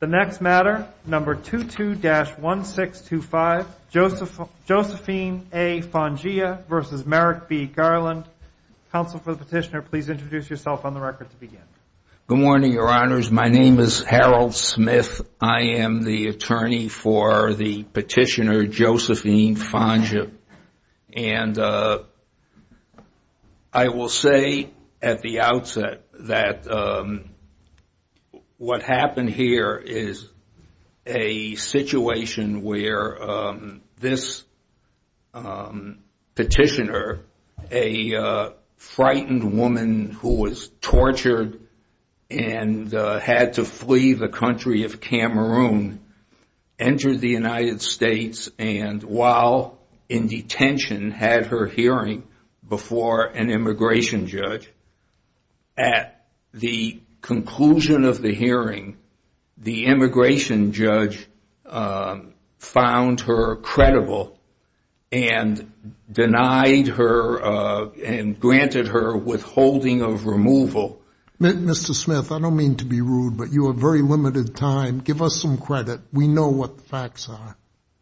The next matter, number 22-1625, Josephine A. Fonjia v. Merrick B. Garland. Counsel for the petitioner, please introduce yourself on the record to begin. Good morning, Your Honors. My name is Harold Smith. I am the attorney for the petitioner, Josephine Fonjia. And I will say at the outset that what happened here is a situation where this petitioner, a frightened woman who was tortured and had to flee the country of Cameroon, entered the United States and, while in detention, had her hearing before an immigration judge. At the conclusion of the hearing, the immigration judge found her credible and denied her and granted her withholding of removal. Mr. Smith, I don't mean to be rude, but you have very limited time. Give us some credit. We know what the facts are.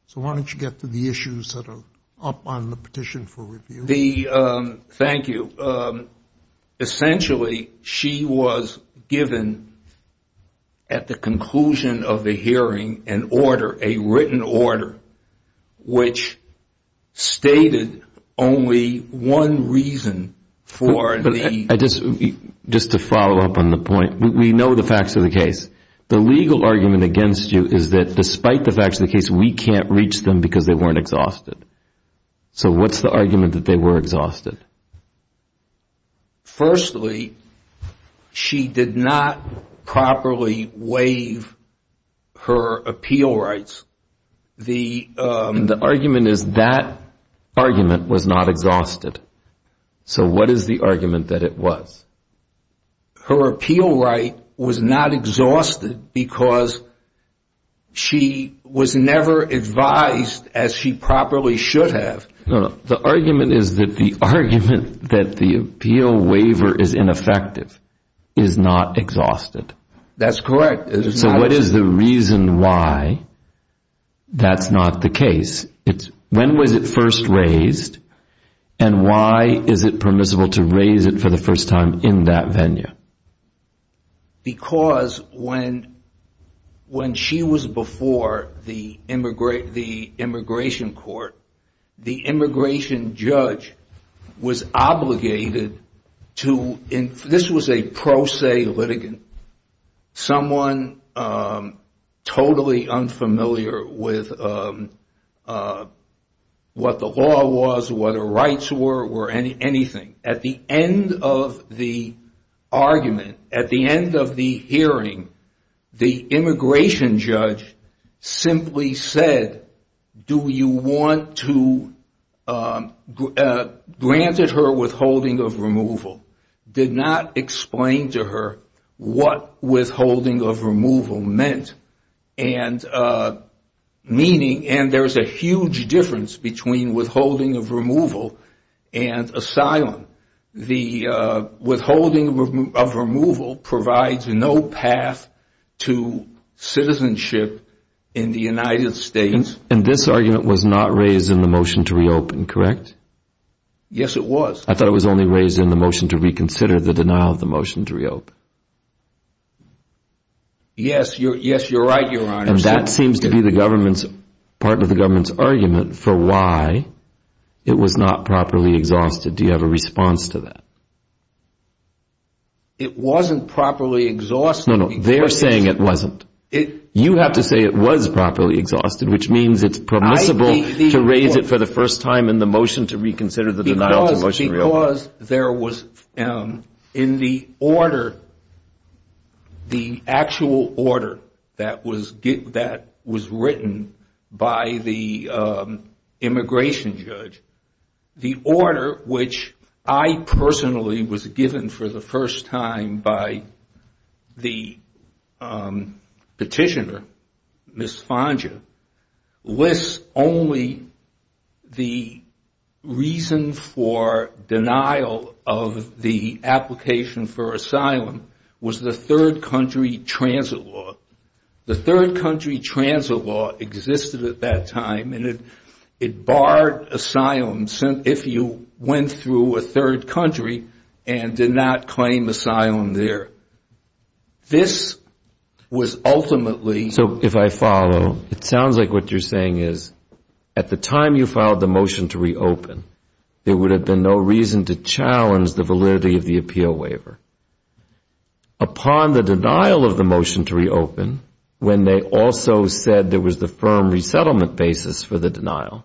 So why don't you get to the issues that are up on the petition for review? Thank you. Essentially, she was given, at the conclusion of the hearing, an order, a written order, which stated only one reason for the- Just to follow up on the point, we know the facts of the case. The legal argument against you is that, despite the facts of the case, we can't reach them because they weren't exhausted. Firstly, she did not properly waive her appeal rights. The argument is that argument was not exhausted. So what is the argument that it was? Her appeal right was not exhausted because she was never advised as she properly should have. The argument is that the argument that the appeal waiver is ineffective is not exhausted. That's correct. So what is the reason why that's not the case? When was it first raised, and why is it permissible to raise it for the first time in that venue? Because when she was before the immigration court, the immigration judge was obligated to- This was a pro se litigant. Someone totally unfamiliar with what the law was, what her rights were, anything. At the end of the argument, at the end of the hearing, the immigration judge simply said, do you want to- granted her withholding of removal. Did not explain to her what withholding of removal meant. And there's a huge difference between withholding of removal and asylum. The withholding of removal provides no path to citizenship in the United States. And this argument was not raised in the motion to reopen, correct? Yes, it was. I thought it was only raised in the motion to reconsider the denial of the motion to reopen. Yes, you're right, Your Honor. And that seems to be part of the government's argument for why it was not properly exhausted. Do you have a response to that? It wasn't properly exhausted. No, no. They're saying it wasn't. You have to say it was properly exhausted, which means it's permissible to raise it for the first time in the motion to reconsider the denial of the motion to reopen. Because there was, in the order, the actual order that was written by the immigration judge, the order, which I personally was given for the first time by the petitioner, Ms. Fonga, lists only the reason for denial of the application for asylum was the third country transit law. The third country transit law existed at that time, and it barred asylum if you went through a third country and did not claim asylum there. This was ultimately So if I follow, it sounds like what you're saying is at the time you filed the motion to reopen, there would have been no reason to challenge the validity of the appeal waiver. Upon the denial of the motion to reopen, when they also said there was the firm resettlement basis for the denial,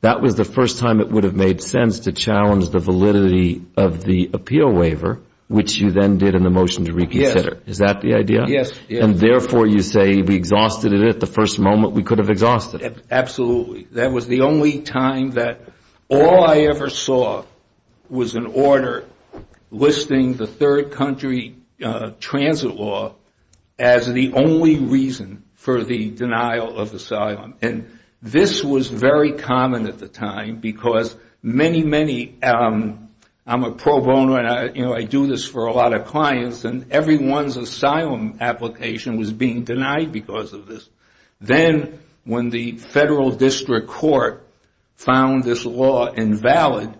that was the first time it would have made sense to challenge the validity of the appeal waiver, which you then did in the motion to reconsider. Yes. Is that the idea? Yes. And therefore you say we exhausted it at the first moment we could have exhausted it. Absolutely. That was the only time that all I ever saw was an order listing the third country transit law as the only reason for the denial of asylum. And this was very common at the time because many, many, I'm a pro bono, and I do this for a lot of clients, and everyone's asylum application was being denied because of this. Then when the federal district court found this law invalid,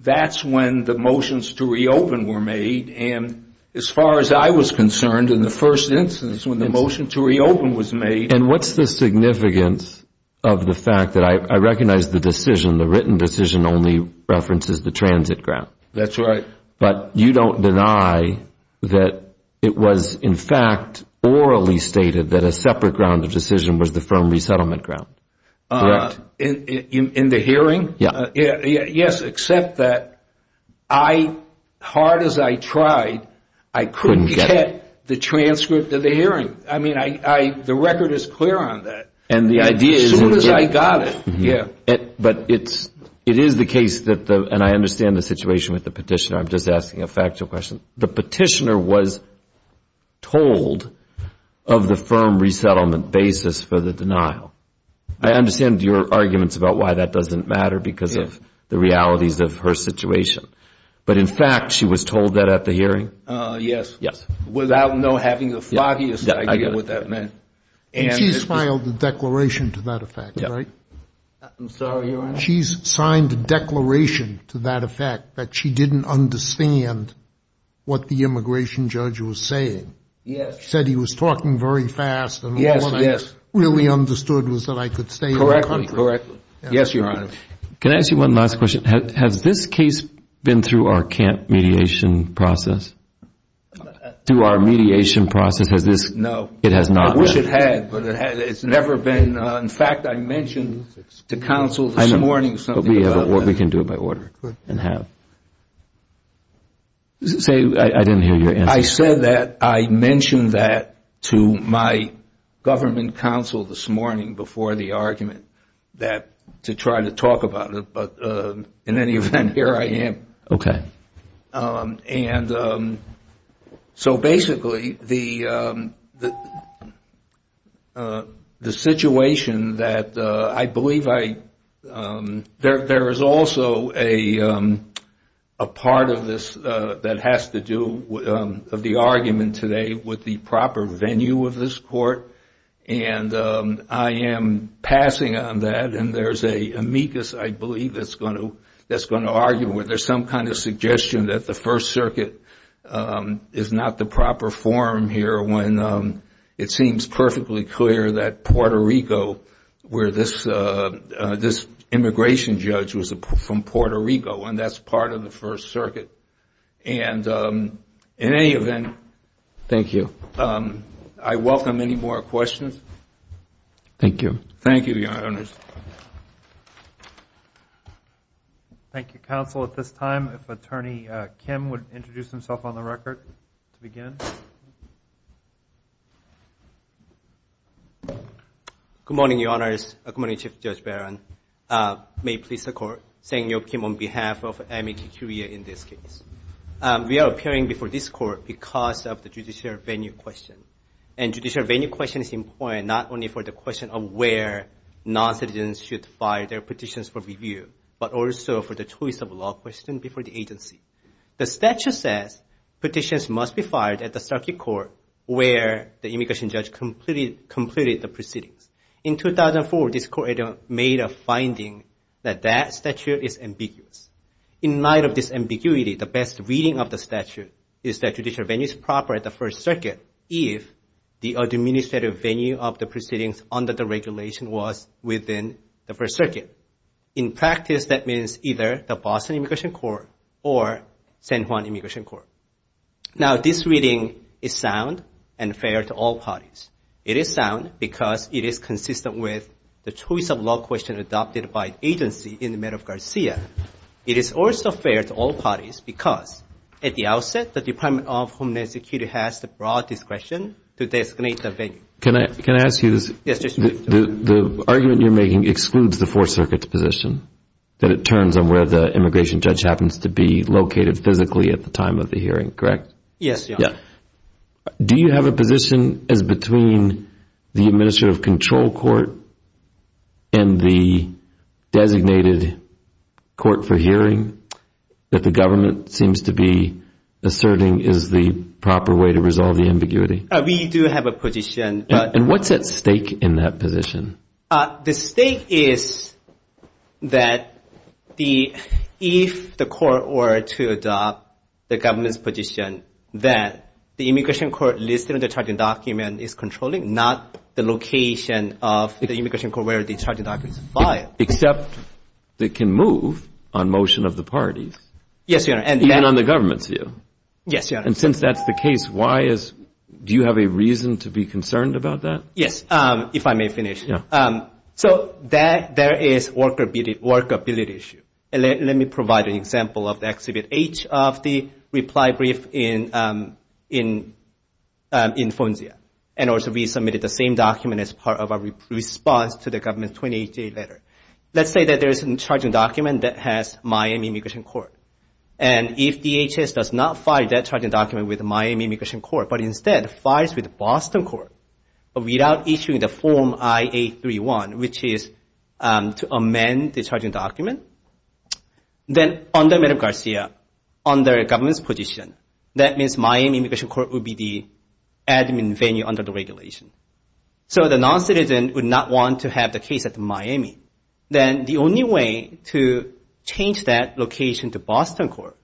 that's when the motions to reopen were made. And as far as I was concerned, in the first instance when the motion to reopen was made And what's the significance of the fact that I recognize the decision, the written decision only references the transit grant. That's right. But you don't deny that it was in fact orally stated that a separate ground of decision was the firm resettlement ground. Correct? In the hearing? Yes. Yes, except that I, hard as I tried, I couldn't get the transcript of the hearing. I mean, the record is clear on that. And the idea is As soon as I got it, yeah. But it is the case that, and I understand the situation with the petitioner, I'm just asking a factual question. The petitioner was told of the firm resettlement basis for the denial. I understand your arguments about why that doesn't matter because of the realities of her situation. But in fact, she was told that at the hearing? Yes. Yes. Without having the floppiest idea what that meant. And she's filed a declaration to that effect, right? I'm sorry, Your Honor? She's signed a declaration to that effect that she didn't understand what the immigration judge was saying. Yes. Said he was talking very fast. Yes, yes. And what I really understood was that I could stay in the country. Correct, correct. Yes, Your Honor. Can I ask you one last question? Has this case been through our camp mediation process? Through our mediation process, has this? No. It has not, right? I wish it had, but it's never been. In fact, I mentioned to counsel this morning something about that. We can do it by order and have. Say, I didn't hear your answer. I said that I mentioned that to my government counsel this morning before the argument to try to talk about it. But in any event, here I am. Okay. And so basically, the situation that I believe I – there is also a part of this that has to do with the argument today with the proper venue of this court. And I am passing on that. And there's an amicus, I believe, that's going to argue whether there's some kind of suggestion that the First Circuit is not the proper forum here when it seems perfectly clear that Puerto Rico, where this immigration judge was from Puerto Rico, and that's part of the First Circuit. And in any event, I welcome any more questions. Thank you. Thank you, Your Honors. Thank you, counsel. At this time, if Attorney Kim would introduce himself on the record to begin. Good morning, Your Honors. Good morning, Chief Judge Barron. May it please the Court. Sang-Yeop Kim on behalf of AMEQ Korea in this case. We are appearing before this Court because of the judicial venue question. And judicial venue question is important not only for the question of where noncitizens should file their petitions for review, but also for the choice of law question before the agency. The statute says petitions must be filed at the Circuit Court where the immigration judge completed the proceedings. In 2004, this Court made a finding that that statute is ambiguous. In light of this ambiguity, the best reading of the statute is that judicial venue is proper at the First Circuit if the administrative venue of the proceedings under the regulation was within the First Circuit. In practice, that means either the Boston Immigration Court or San Juan Immigration Court. Now, this reading is sound and fair to all parties. It is sound because it is consistent with the choice of law question adopted by agency in the matter of Garcia. It is also fair to all parties because at the outset, the Department of Homeland Security has the broad discretion to designate the venue. Can I ask you this? Yes, Chief Judge. The argument you're making excludes the Fourth Circuit's position, that it turns on where the immigration judge happens to be located physically at the time of the hearing, correct? Yes, Your Honor. Do you have a position as between the Administrative Control Court and the designated court for hearing that the government seems to be asserting is the proper way to resolve the ambiguity? We do have a position. And what's at stake in that position? The stake is that if the court were to adopt the government's position that the immigration court listed in the charging document is controlling, not the location of the immigration court where the charging document is filed. Except it can move on motion of the parties. Yes, Your Honor. Even on the government's view. Yes, Your Honor. And since that's the case, do you have a reason to be concerned about that? Yes, if I may finish. So there is workability issue. Let me provide an example of the Exhibit H of the reply brief in FONSIA. And also we submitted the same document as part of our response to the government's 2018 letter. Let's say that there's a charging document that has Miami Immigration Court. And if DHS does not file that charging document with Miami Immigration Court, but instead files with Boston Court without issuing the Form I-831, which is to amend the charging document, then under Medgar Garcia, under the government's position, that means Miami Immigration Court would be the admin venue under the regulation. So the non-citizen would not want to have the case at Miami. Then the only way to change that location to Boston Court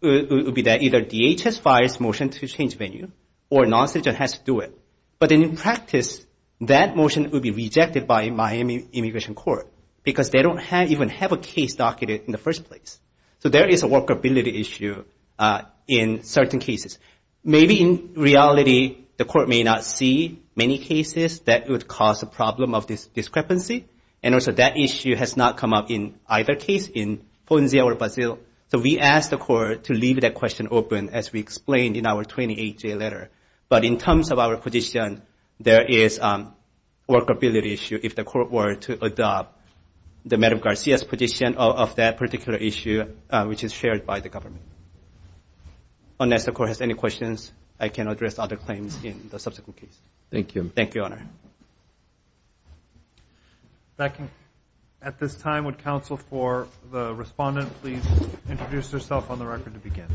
would be that either DHS files motion to change venue or non-citizen has to do it. But in practice, that motion would be rejected by Miami Immigration Court because they don't even have a case docketed in the first place. So there is a workability issue in certain cases. Maybe in reality the court may not see many cases that would cause a problem of this discrepancy. And also that issue has not come up in either case in Ponzia or Brazil. So we asked the court to leave that question open as we explained in our 2018 letter. But in terms of our position, there is a workability issue if the court were to adopt the Medgar Garcia's position of that particular issue, which is shared by the government. Unless the court has any questions, I can address other claims in the subsequent case. Thank you. Thank you, Your Honor. At this time, would counsel for the respondent please introduce herself on the record to begin?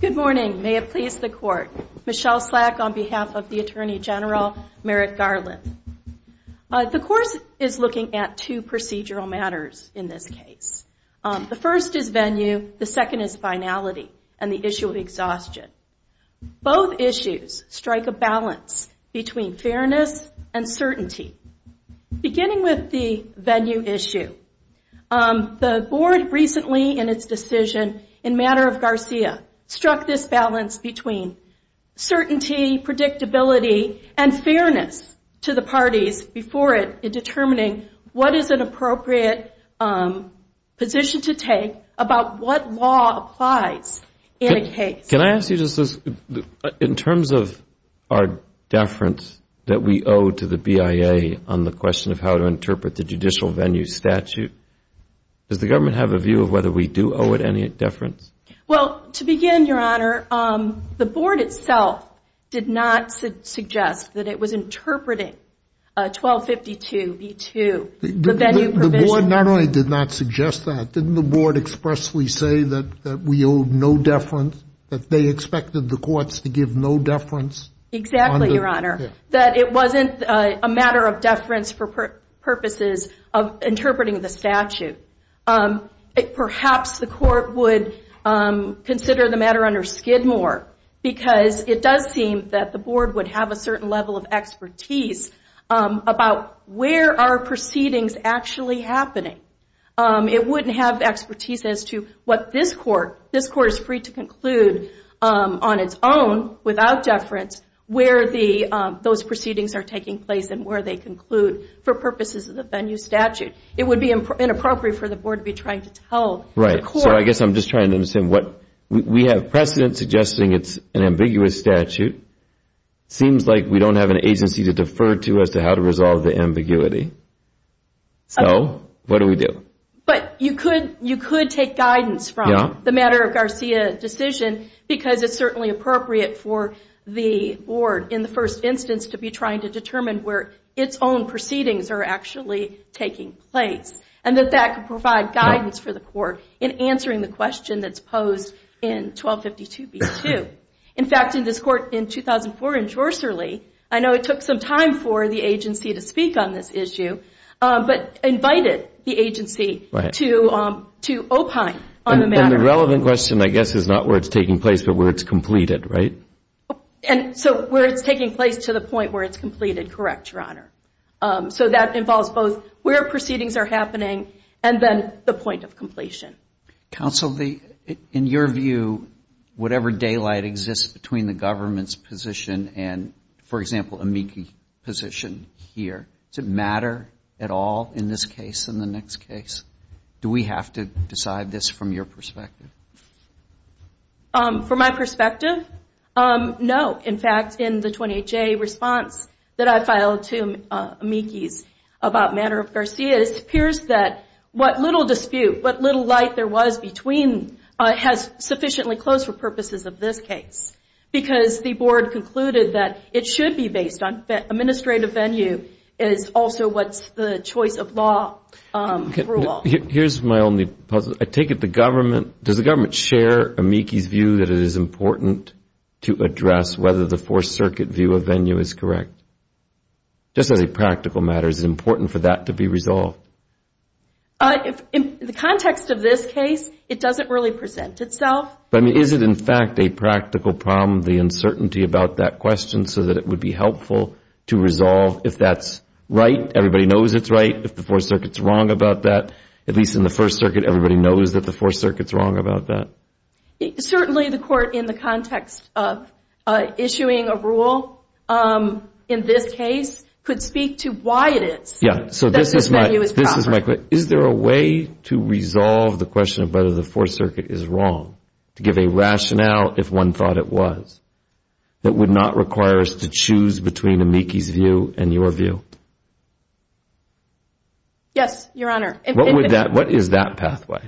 Good morning. May it please the court. Michelle Slack on behalf of the Attorney General Merrick Garland. The court is looking at two procedural matters in this case. The first is venue, the second is finality, and the issue of exhaustion. Both issues strike a balance between fairness and certainty. Beginning with the venue issue, the board recently in its decision in matter of Garcia struck this balance between certainty, predictability, and fairness to the parties before determining what is an appropriate position to take about what law applies in a case. Can I ask you just this? In terms of our deference that we owe to the BIA on the question of how to interpret the judicial venue statute, does the government have a view of whether we do owe it any deference? Well, to begin, Your Honor, the board itself did not suggest that it was interpreting 1252B2, the venue provision. The board not only did not suggest that, didn't the board expressly say that we owe no deference, that they expected the courts to give no deference? Exactly, Your Honor. That it wasn't a matter of deference for purposes of interpreting the statute. Perhaps the court would consider the matter under Skidmore, because it does seem that the board would have a certain level of expertise about where are proceedings actually happening. It wouldn't have expertise as to what this court, this court is free to conclude on its own without deference, where those proceedings are taking place and where they conclude for purposes of the venue statute. It would be inappropriate for the board to be trying to tell the court... Right, so I guess I'm just trying to understand what... We have precedent suggesting it's an ambiguous statute. It seems like we don't have an agency to defer to as to how to resolve the ambiguity. So, what do we do? But you could take guidance from the matter of Garcia's decision, because it's certainly appropriate for the board, in the first instance, to be trying to determine where its own proceedings are actually taking place and that that could provide guidance for the court in answering the question that's posed in 1252B2. In fact, in this court in 2004 in Jorserley, I know it took some time for the agency to speak on this issue, but invited the agency to opine on the matter. And the relevant question, I guess, is not where it's taking place, but where it's completed, right? So, where it's taking place to the point where it's completed, correct, Your Honor. So, that involves both where proceedings are happening and then the point of completion. Counsel, in your view, whatever daylight exists between the government's position and, for example, amici position here, does it matter at all in this case and the next case? Do we have to decide this from your perspective? From my perspective, no. In fact, in the 28J response that I filed to amicis about Manner of Garcia, it appears that what little dispute, what little light there was between has sufficiently closed for purposes of this case. Because the board concluded that it should be based on administrative venue is also what's the choice of law rule. Well, here's my only puzzle. I take it the government, does the government share amici's view that it is important to address whether the Fourth Circuit view of venue is correct? Just as a practical matter, is it important for that to be resolved? In the context of this case, it doesn't really present itself. But, I mean, is it, in fact, a practical problem, the uncertainty about that question, so that it would be helpful to resolve if that's right, everybody knows it's right, if the Fourth Circuit's wrong about that. At least in the First Circuit, everybody knows that the Fourth Circuit's wrong about that. Certainly the court, in the context of issuing a rule in this case, could speak to why it is that this venue is proper. Is there a way to resolve the question of whether the Fourth Circuit is wrong, to give a rationale, if one thought it was, that would not require us to choose between amici's view and your view? Yes, Your Honor. What is that pathway?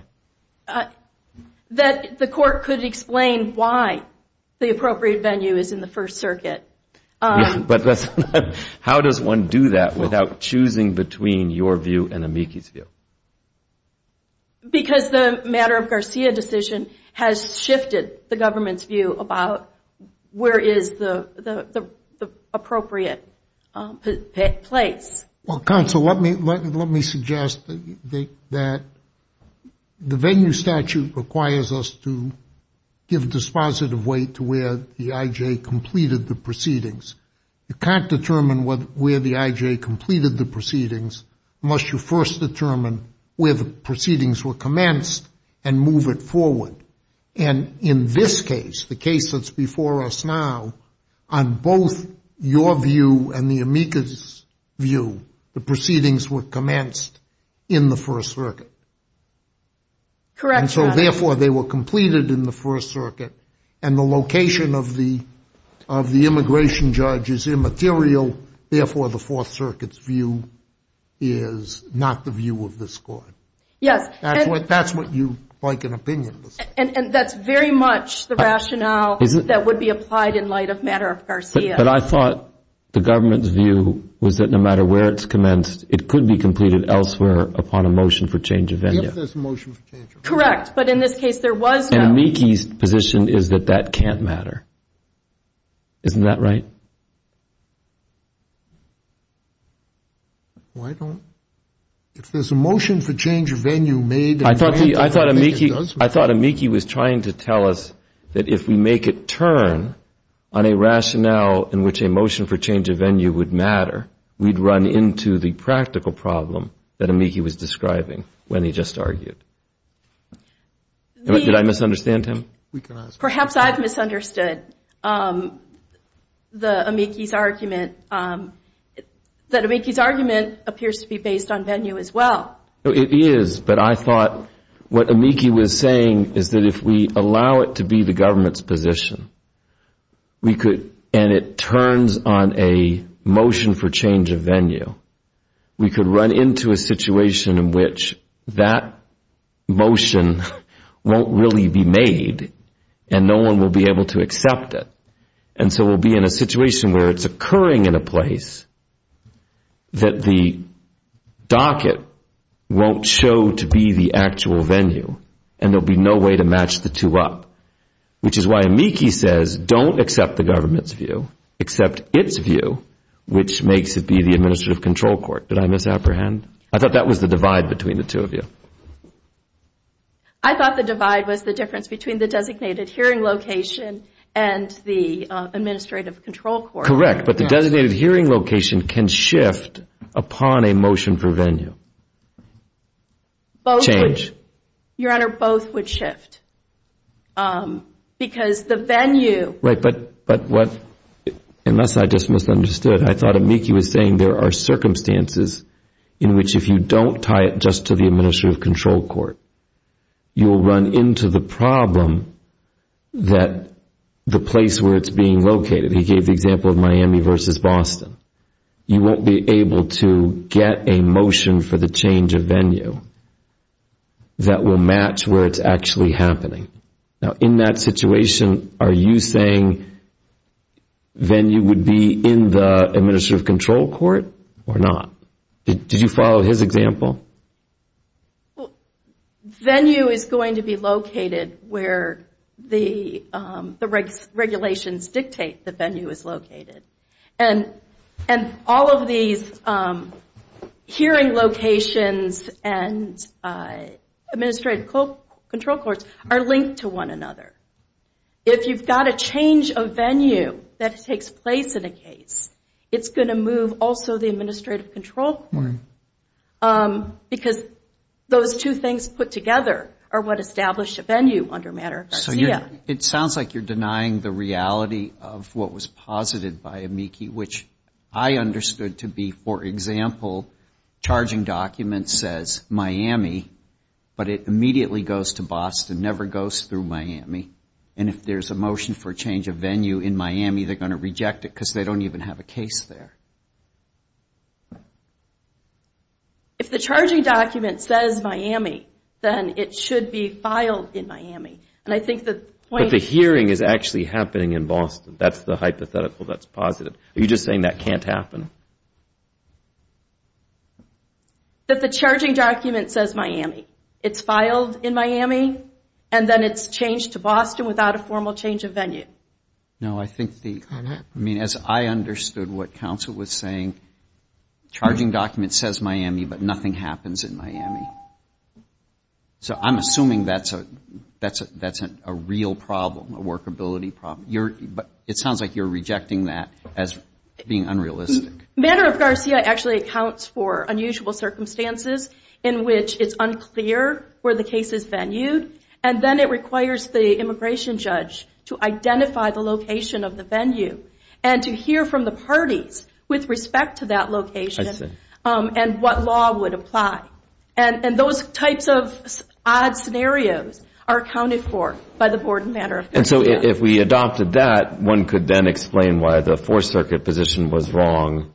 That the court could explain why the appropriate venue is in the First Circuit. But how does one do that without choosing between your view and amici's view? Because the matter of Garcia decision has shifted the government's view about where is the appropriate place. Well, counsel, let me suggest that the venue statute requires us to give dispositive weight to where the IJ completed the proceedings. You can't determine where the IJ completed the proceedings, unless you first determine where the proceedings were commenced and move it forward. And in this case, the case that's before us now, on both your view and the amici's view, the proceedings were commenced in the First Circuit. Correct, Your Honor. Therefore, they were completed in the First Circuit. And the location of the immigration judge is immaterial. Therefore, the Fourth Circuit's view is not the view of this court. Yes. That's what you like an opinion to say. And that's very much the rationale that would be applied in light of matter of Garcia. But I thought the government's view was that no matter where it's commenced, it could be completed elsewhere upon a motion for change of venue. If there's a motion for change of venue. Correct. But in this case, there was no. And amici's position is that that can't matter. Isn't that right? Why don't, if there's a motion for change of venue made and granted, I think it does matter. I thought amici was trying to tell us that if we make it turn on a rationale in which a motion for change of venue would matter, we'd run into the practical problem that amici was describing when he just argued. Did I misunderstand him? Perhaps I've misunderstood the amici's argument. That amici's argument appears to be based on venue as well. It is. But I thought what amici was saying is that if we allow it to be the government's position, and it turns on a motion for change of venue, we could run into a situation in which that motion won't really be made and no one will be able to accept it. And so we'll be in a situation where it's occurring in a place that the docket won't show to be the actual venue. And there'll be no way to match the two up. Which is why amici says don't accept the government's view. Accept its view, which makes it be the administrative control court. Did I misapprehend? I thought that was the divide between the two of you. I thought the divide was the difference between the designated hearing location and the administrative control court. Correct. But the designated hearing location can shift upon a motion for venue. Both would. Change. Your Honor, both would shift. Because the venue. Right, but what, unless I just misunderstood, I thought amici was saying there are circumstances in which if you don't tie it just to the administrative control court, you'll run into the problem that the place where it's being located. He gave the example of Miami versus Boston. You won't be able to get a motion for the change of venue that will match where it's actually happening. Now, in that situation, are you saying venue would be in the administrative control court or not? Did you follow his example? Venue is going to be located where the regulations dictate the venue is located. And all of these hearing locations and administrative control courts are linked to one another. If you've got a change of venue that takes place in a case, it's going to move also the administrative control court. Because those two things put together are what establish a venue under matter of Garcia. It sounds like you're denying the reality of what was posited by amici, which I understood to be, for example, charging document says Miami, but it immediately goes to Boston, never goes through Miami. And if there's a motion for change of venue in Miami, they're going to reject it because they don't even have a case there. If the charging document says Miami, then it should be filed in Miami. But the hearing is actually happening in Boston. That's the hypothetical that's posited. Are you just saying that can't happen? That the charging document says Miami. It's filed in Miami, and then it's changed to Boston without a formal change of venue. No, I think as I understood what counsel was saying, charging document says Miami, but nothing happens in Miami. So I'm assuming that's a real problem, a workability problem. But it sounds like you're rejecting that as being unrealistic. Matter of Garcia actually accounts for unusual circumstances in which it's unclear where the case is venue, and then it requires the immigration judge to identify the location of the venue and to hear from the parties with respect to that location and what law would apply. And those types of odd scenarios are accounted for by the board in matter of Garcia. And so if we adopted that, one could then explain why the Fourth Circuit position was wrong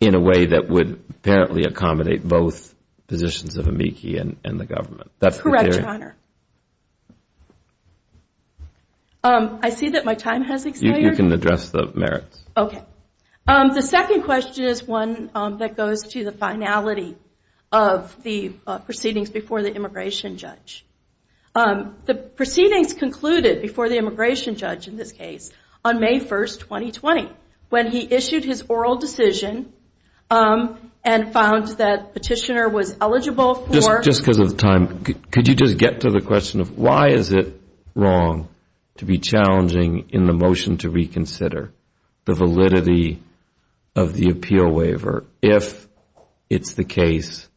in a way that would apparently accommodate both positions of AMICI and the government. Correct, Your Honor. I see that my time has expired. You can address the merits. Okay. The second question is one that goes to the finality of the proceedings before the immigration judge. The proceedings concluded before the immigration judge in this case on May 1, 2020, when he issued his oral decision and found that Petitioner was eligible for- Just because of time, could you just get to the question of why is it wrong to be challenging in the motion to reconsider? The validity of the appeal waiver if it's the case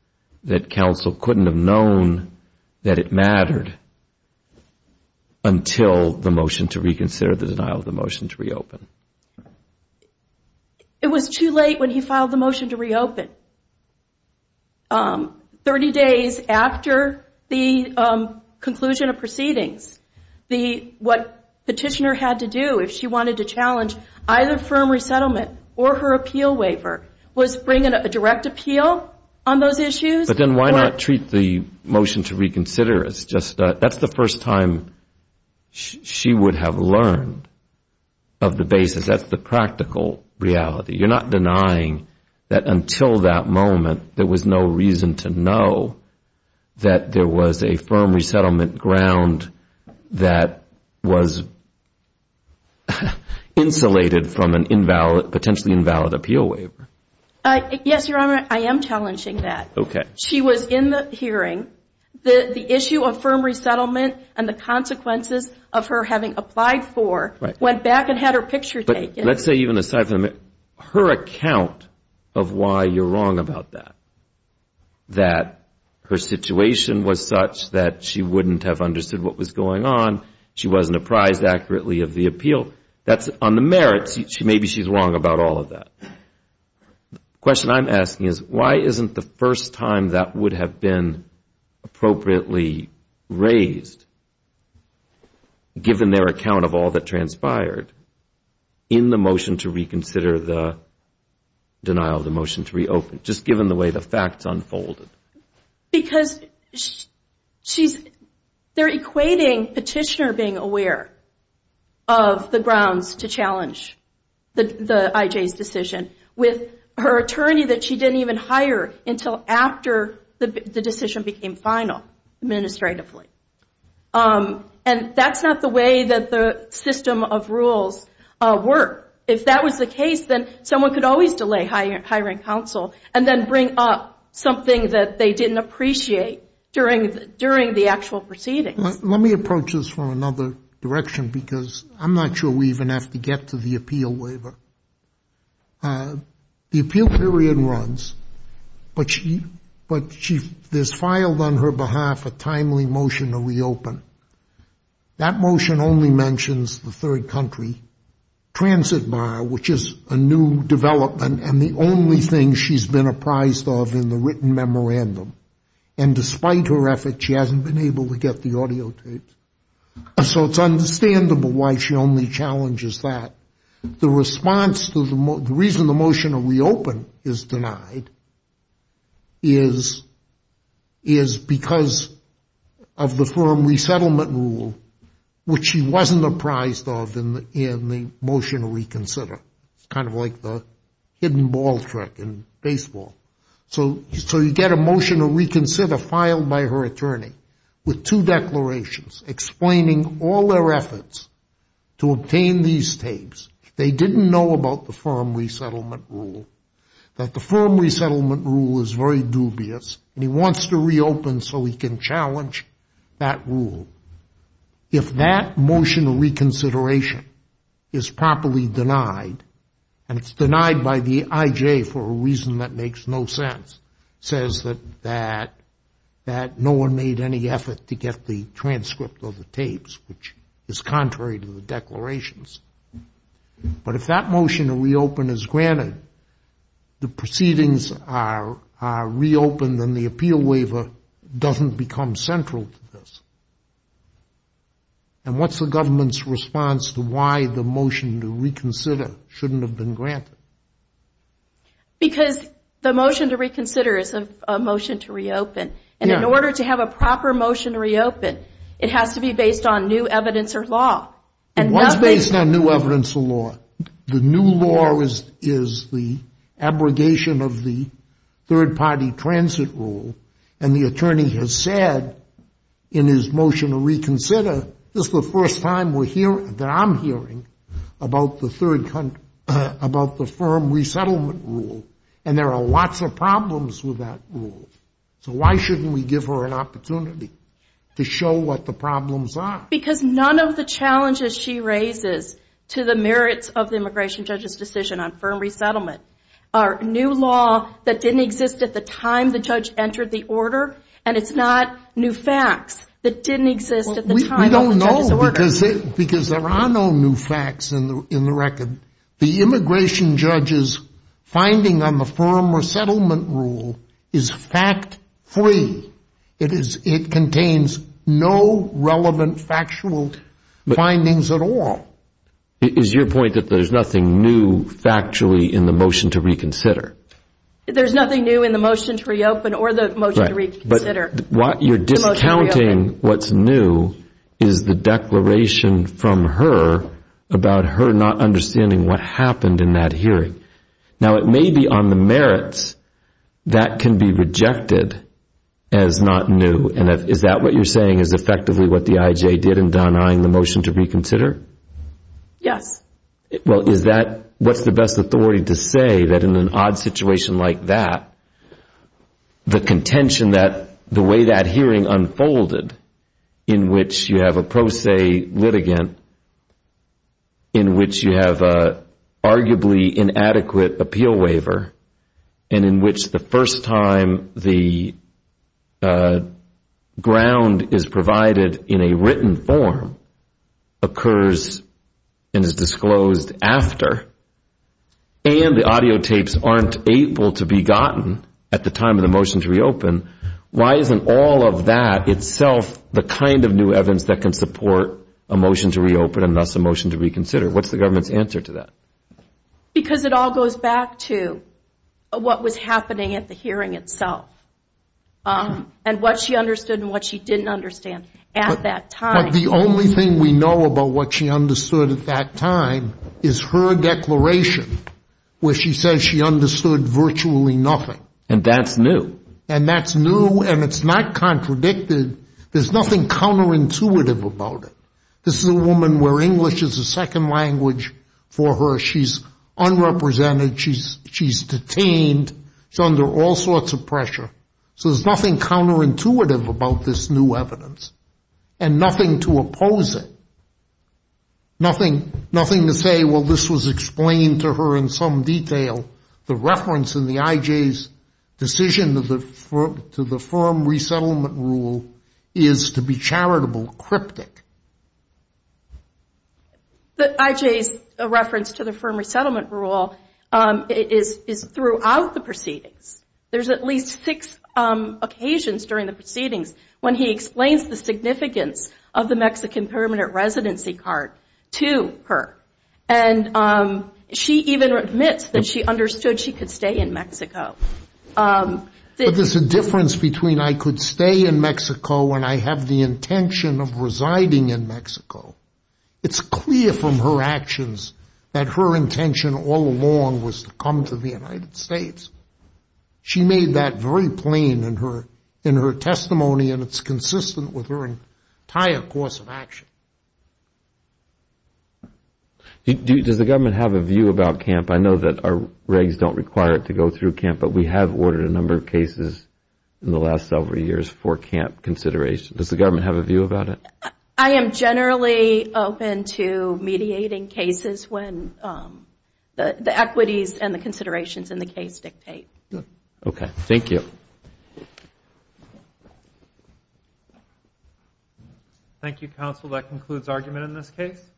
that counsel couldn't have known that it mattered until the motion to reconsider, the denial of the motion to reopen. It was too late when he filed the motion to reopen. What Petitioner had to do if she wanted to challenge either firm resettlement or her appeal waiver was bring a direct appeal on those issues. But then why not treat the motion to reconsider as just- That's the first time she would have learned of the basis. That's the practical reality. You're not denying that until that moment there was no reason to know that there was a firm resettlement ground that was insulated from a potentially invalid appeal waiver. Yes, Your Honor, I am challenging that. She was in the hearing. The issue of firm resettlement and the consequences of her having applied for went back and had her picture taken. Let's say even aside from her account of why you're wrong about that, that her situation was such that she wouldn't have understood what was going on, she wasn't apprised accurately of the appeal. On the merits, maybe she's wrong about all of that. The question I'm asking is why isn't the first time that would have been appropriately raised, given their account of all that transpired, in the motion to reconsider the denial of the motion to reopen, just given the way the facts unfolded? Because they're equating petitioner being aware of the grounds to challenge the IJ's decision with her attorney that she didn't even hire until after the decision became final administratively. And that's not the way that the system of rules work. If that was the case, then someone could always delay hiring counsel and then bring up something that they didn't appreciate during the actual proceedings. Let me approach this from another direction, because I'm not sure we even have to get to the appeal waiver. The appeal period runs, but there's filed on her behalf a timely motion to reopen. That motion only mentions the third country, transit bar, which is a new development, and the only thing she's been apprised of in the written memorandum. And despite her effort, she hasn't been able to get the audio tape. So it's understandable why she only challenges that. The reason the motion to reopen is denied is because of the firm resettlement rule, which she wasn't apprised of in the motion to reconsider. It's kind of like the hidden ball trick in baseball. So you get a motion to reconsider filed by her attorney with two declarations explaining all their efforts to obtain these tapes. They didn't know about the firm resettlement rule, that the firm resettlement rule is very dubious, and he wants to reopen so he can challenge that rule. If that motion of reconsideration is properly denied, and it's denied by the IJ for a reason that makes no sense, says that no one made any effort to get the transcript of the tapes, which is contrary to the declarations, but if that motion to reopen is granted, the proceedings are reopened and the appeal waiver doesn't become central to this. And what's the government's response to why the motion to reconsider shouldn't have been granted? Because the motion to reconsider is a motion to reopen. And in order to have a proper motion to reopen, it has to be based on new evidence or law. And what's based on new evidence or law? The new law is the abrogation of the third-party transit rule, and the attorney has said in his motion to reconsider, this is the first time that I'm hearing about the firm resettlement rule, and there are lots of problems with that rule. So why shouldn't we give her an opportunity to show what the problems are? Because none of the challenges she raises to the merits of the immigration judge's decision on firm resettlement are new law that didn't exist at the time the judge entered the order, and it's not new facts that didn't exist at the time of the judge's order. We don't know because there are no new facts in the record. The immigration judge's finding on the firm resettlement rule is fact-free. It contains no relevant factual findings at all. Is your point that there's nothing new factually in the motion to reconsider? There's nothing new in the motion to reopen or the motion to reconsider. But what you're discounting what's new is the declaration from her about her not understanding what happened in that hearing. Now, it may be on the merits that can be rejected as not new, and is that what you're saying is effectively what the IJ did in denying the motion to reconsider? Yes. Well, what's the best authority to say that in an odd situation like that, the contention that the way that hearing unfolded in which you have a pro se litigant, in which you have an arguably inadequate appeal waiver, and in which the first time the ground is provided in a written form, occurs and is disclosed after, and the audio tapes aren't able to be gotten at the time of the motion to reopen, why isn't all of that itself the kind of new evidence that can support a motion to reopen and thus a motion to reconsider? What's the government's answer to that? Because it all goes back to what was happening at the hearing itself and what she understood and what she didn't understand at that time. But the only thing we know about what she understood at that time is her declaration where she says she understood virtually nothing. And that's new. And that's new, and it's not contradicted. There's nothing counterintuitive about it. This is a woman where English is a second language for her. She's unrepresented. She's detained. She's under all sorts of pressure. So there's nothing counterintuitive about this new evidence and nothing to oppose it, nothing to say, well, this was explained to her in some detail. The reference in the IJ's decision to the firm resettlement rule is to be charitable, cryptic. The IJ's reference to the firm resettlement rule is throughout the proceedings. There's at least six occasions during the proceedings when he explains the significance of the Mexican permanent residency card to her. And she even admits that she understood she could stay in Mexico. But there's a difference between I could stay in Mexico and I have the intention of residing in Mexico. It's clear from her actions that her intention all along was to come to the United States. She made that very plain in her testimony, and it's consistent with her entire course of action. Does the government have a view about CAMP? I know that our regs don't require it to go through CAMP, but we have ordered a number of cases in the last several years for CAMP consideration. Does the government have a view about it? I am generally open to mediating cases when the equities and the considerations in the case dictate. Okay. Thank you. Thank you, counsel. That concludes argument in this case.